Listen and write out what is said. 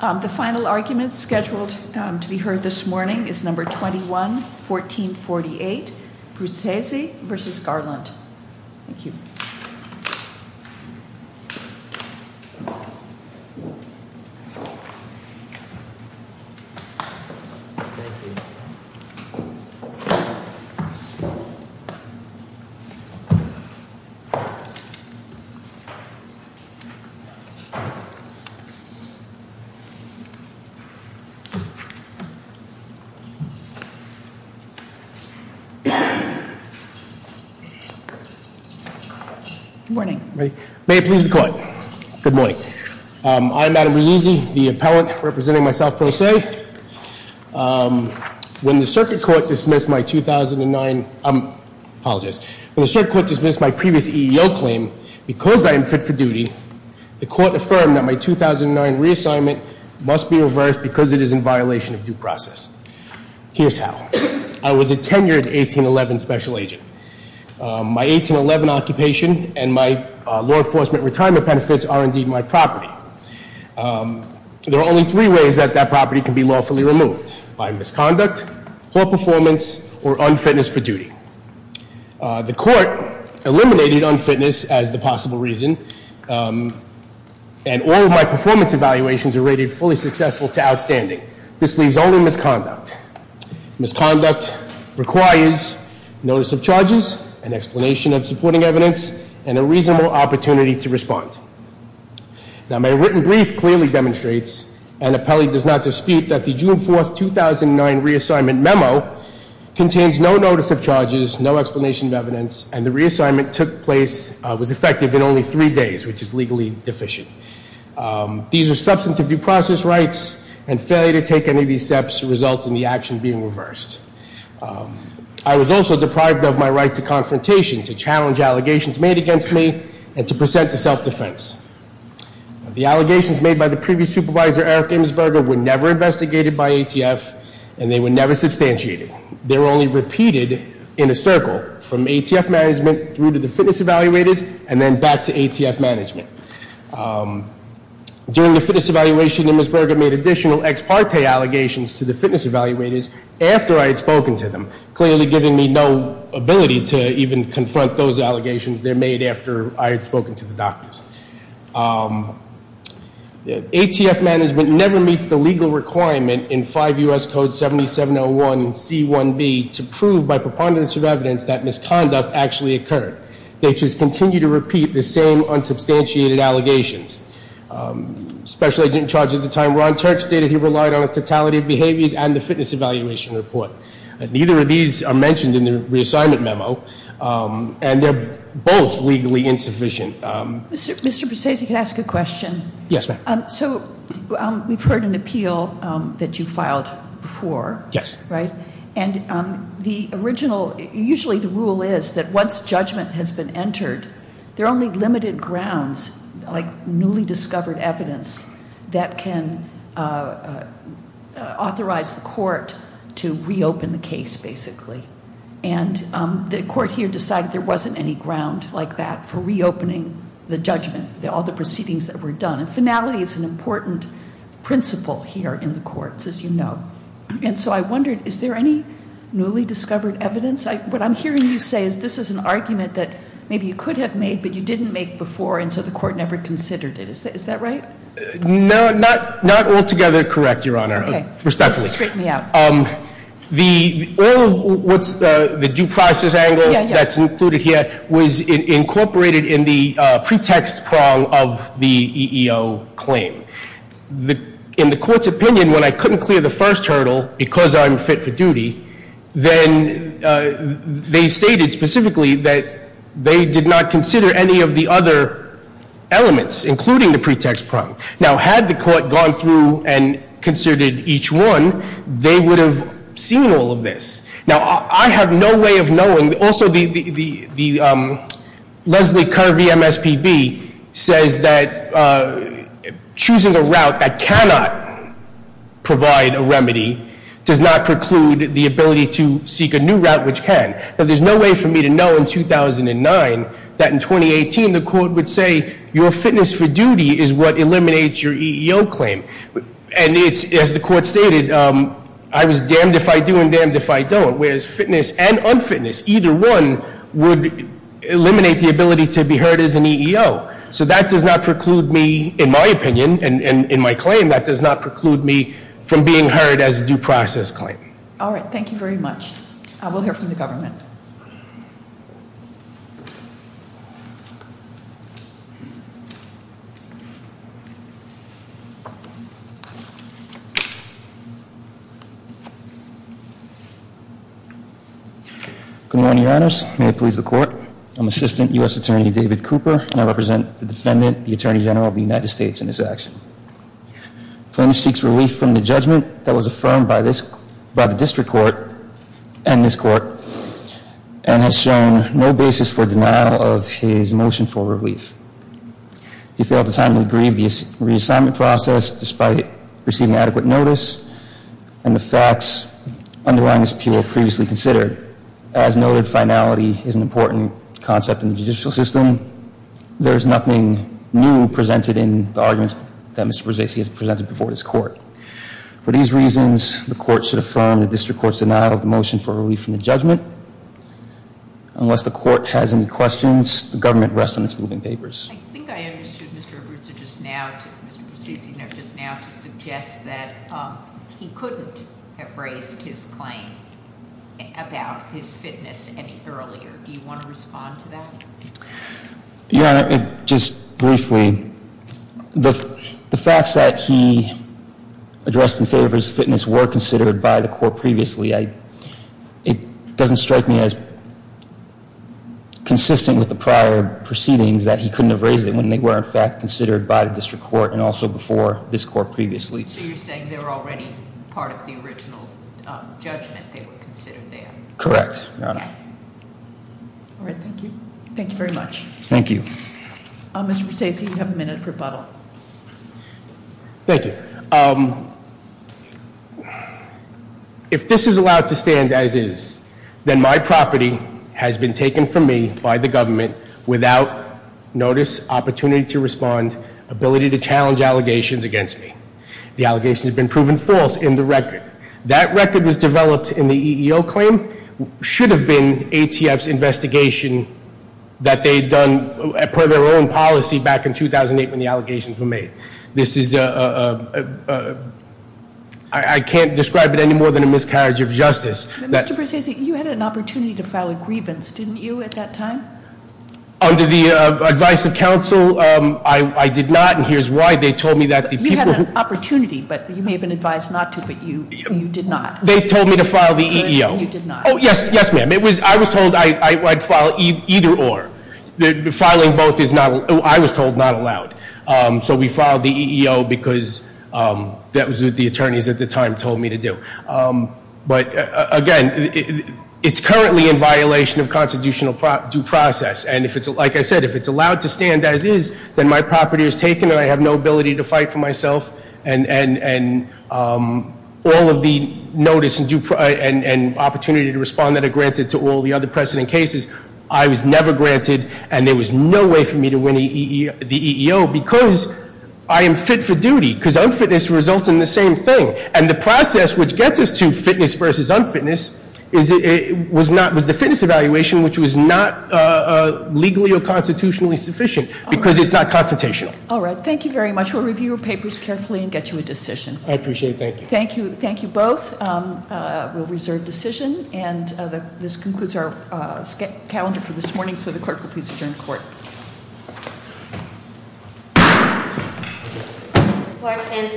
The final argument scheduled to be heard this morning is No. 21-1448, Bruzzese v. Garland. Good morning. May it please the court. Good morning. I'm Adam Bruzzese, the appellant representing myself pro se. When the circuit court dismissed my previous EEO claim, because I am fit for duty, the court affirmed that my 2009 reassignment must be reversed because it is in violation of due process. Here's how. I was a tenured 1811 special agent. My 1811 occupation and my law enforcement retirement benefits are indeed my property. There are only three ways that that property can be lawfully removed, by misconduct, poor performance, or unfitness for duty. The court eliminated unfitness as the possible reason. And all of my performance evaluations are rated fully successful to outstanding. This leaves only misconduct. Misconduct requires notice of charges, an explanation of supporting evidence, and a reasonable opportunity to respond. Now, my written brief clearly demonstrates, and appellee does not dispute, that the June 4, 2009 reassignment memo contains no notice of charges, no explanation of evidence, and the reassignment took place, was effective in only three days, which is legally deficient. These are substantive due process rights, and failure to take any of these steps result in the action being reversed. I was also deprived of my right to confrontation, to challenge allegations made against me, and to present to self-defense. The allegations made by the previous supervisor, Eric Imusberger, were never investigated by ATF, and they were never substantiated. They were only repeated in a circle, from ATF management through to the fitness evaluators, and then back to ATF management. During the fitness evaluation, Imusberger made additional ex parte allegations to the fitness evaluators, after I had spoken to them, clearly giving me no ability to even confront those allegations they made after I had spoken to the doctors. ATF management never meets the legal requirement in 5 U.S. Code 7701C1B, to prove by preponderance of evidence that misconduct actually occurred. They just continue to repeat the same unsubstantiated allegations. Special agent in charge at the time, Ron Turk, stated he relied on a totality of behaviors, and the fitness evaluation report. Neither of these are mentioned in the reassignment memo, and they're both legally insufficient. Mr. Precisi, can I ask a question? Yes, ma'am. So, we've heard an appeal that you filed before. Yes. Right? And the original, usually the rule is that once judgment has been entered, there are only limited grounds, like newly discovered evidence, that can authorize the court to reopen the case, basically. And the court here decided there wasn't any ground like that for reopening the judgment, all the proceedings that were done. And finality is an important principle here in the courts, as you know. And so I wondered, is there any newly discovered evidence? What I'm hearing you say is this is an argument that maybe you could have made, but you didn't make before, and so the court never considered it. Is that right? No, not altogether correct, Your Honor. Okay. Respectfully. Straighten me out. All of what's the due process angle that's included here was incorporated in the pretext prong of the EEO claim. In the court's opinion, when I couldn't clear the first hurdle because I'm fit for duty, then they stated specifically that they did not consider any of the other elements, including the pretext prong. Now, had the court gone through and considered each one, they would have seen all of this. Now, I have no way of knowing. Also, the Leslie Kirby MSPB says that choosing a route that cannot provide a remedy does not preclude the ability to seek a new route which can. Now, there's no way for me to know in 2009 that in 2018, the court would say your fitness for duty is what eliminates your EEO claim. And as the court stated, I was damned if I do and damned if I don't. Whereas fitness and unfitness, either one would eliminate the ability to be heard as an EEO. So that does not preclude me, in my opinion, and in my claim, that does not preclude me from being heard as a due process claim. All right, thank you very much. I will hear from the government. Good morning, your honors. May it please the court. I'm Assistant U.S. Attorney David Cooper, and I represent the defendant, the Attorney General of the United States, in this action. The plaintiff seeks relief from the judgment that was affirmed by the district court and this court, and has shown no basis for denial of his motion for relief. He failed to timely grieve the reassignment process despite receiving adequate notice and the facts underlying his appeal were previously considered. As noted, finality is an important concept in the judicial system. There is nothing new presented in the arguments that Mr. Brzezinski has presented before this court. For these reasons, the court should affirm the district court's denial of the motion for relief from the judgment. Unless the court has any questions, the government rests on its moving papers. I think I understood Mr. Brzezinski just now to suggest that he couldn't have raised his claim about his fitness any earlier. Do you want to respond to that? Your Honor, just briefly, the facts that he addressed in favor of his fitness were considered by the court previously. It doesn't strike me as consistent with the prior proceedings that he couldn't have raised it when they were in fact considered by the district court and also before this court previously. So you're saying they were already part of the original judgment they were considered there? Correct, Your Honor. All right, thank you. Thank you very much. Thank you. Mr. Brzezinski, you have a minute for rebuttal. Thank you. If this is allowed to stand as is, then my property has been taken from me by the government without notice, opportunity to respond, ability to challenge allegations against me. The allegations have been proven false in the record. That record was developed in the EEO claim, should have been ATF's investigation that they had done per their own policy back in 2008 when the allegations were made. This is, I can't describe it any more than a miscarriage of justice. Mr. Brzezinski, you had an opportunity to file a grievance, didn't you at that time? Under the advice of counsel, I did not, and here's why. They told me that the people- You had an opportunity, but you may have been advised not to, but you did not. They told me to file the EEO. You did not. Yes, ma'am. I was told I'd file either or. Filing both is not, I was told not allowed. So we filed the EEO because that was what the attorneys at the time told me to do. But again, it's currently in violation of constitutional due process. And if it's, like I said, if it's allowed to stand as is, then my property is taken and I have no ability to fight for myself. And all of the notice and opportunity to respond that are granted to all the other precedent cases, I was never granted and there was no way for me to win the EEO because I am fit for duty. Because unfitness results in the same thing. And the process which gets us to fitness versus unfitness was the fitness evaluation, which was not legally or constitutionally sufficient because it's not confrontational. All right, thank you very much. We'll review your papers carefully and get you a decision. I appreciate that. Thank you both. We'll reserve decision and this concludes our calendar for this morning. So the clerk will please adjourn court.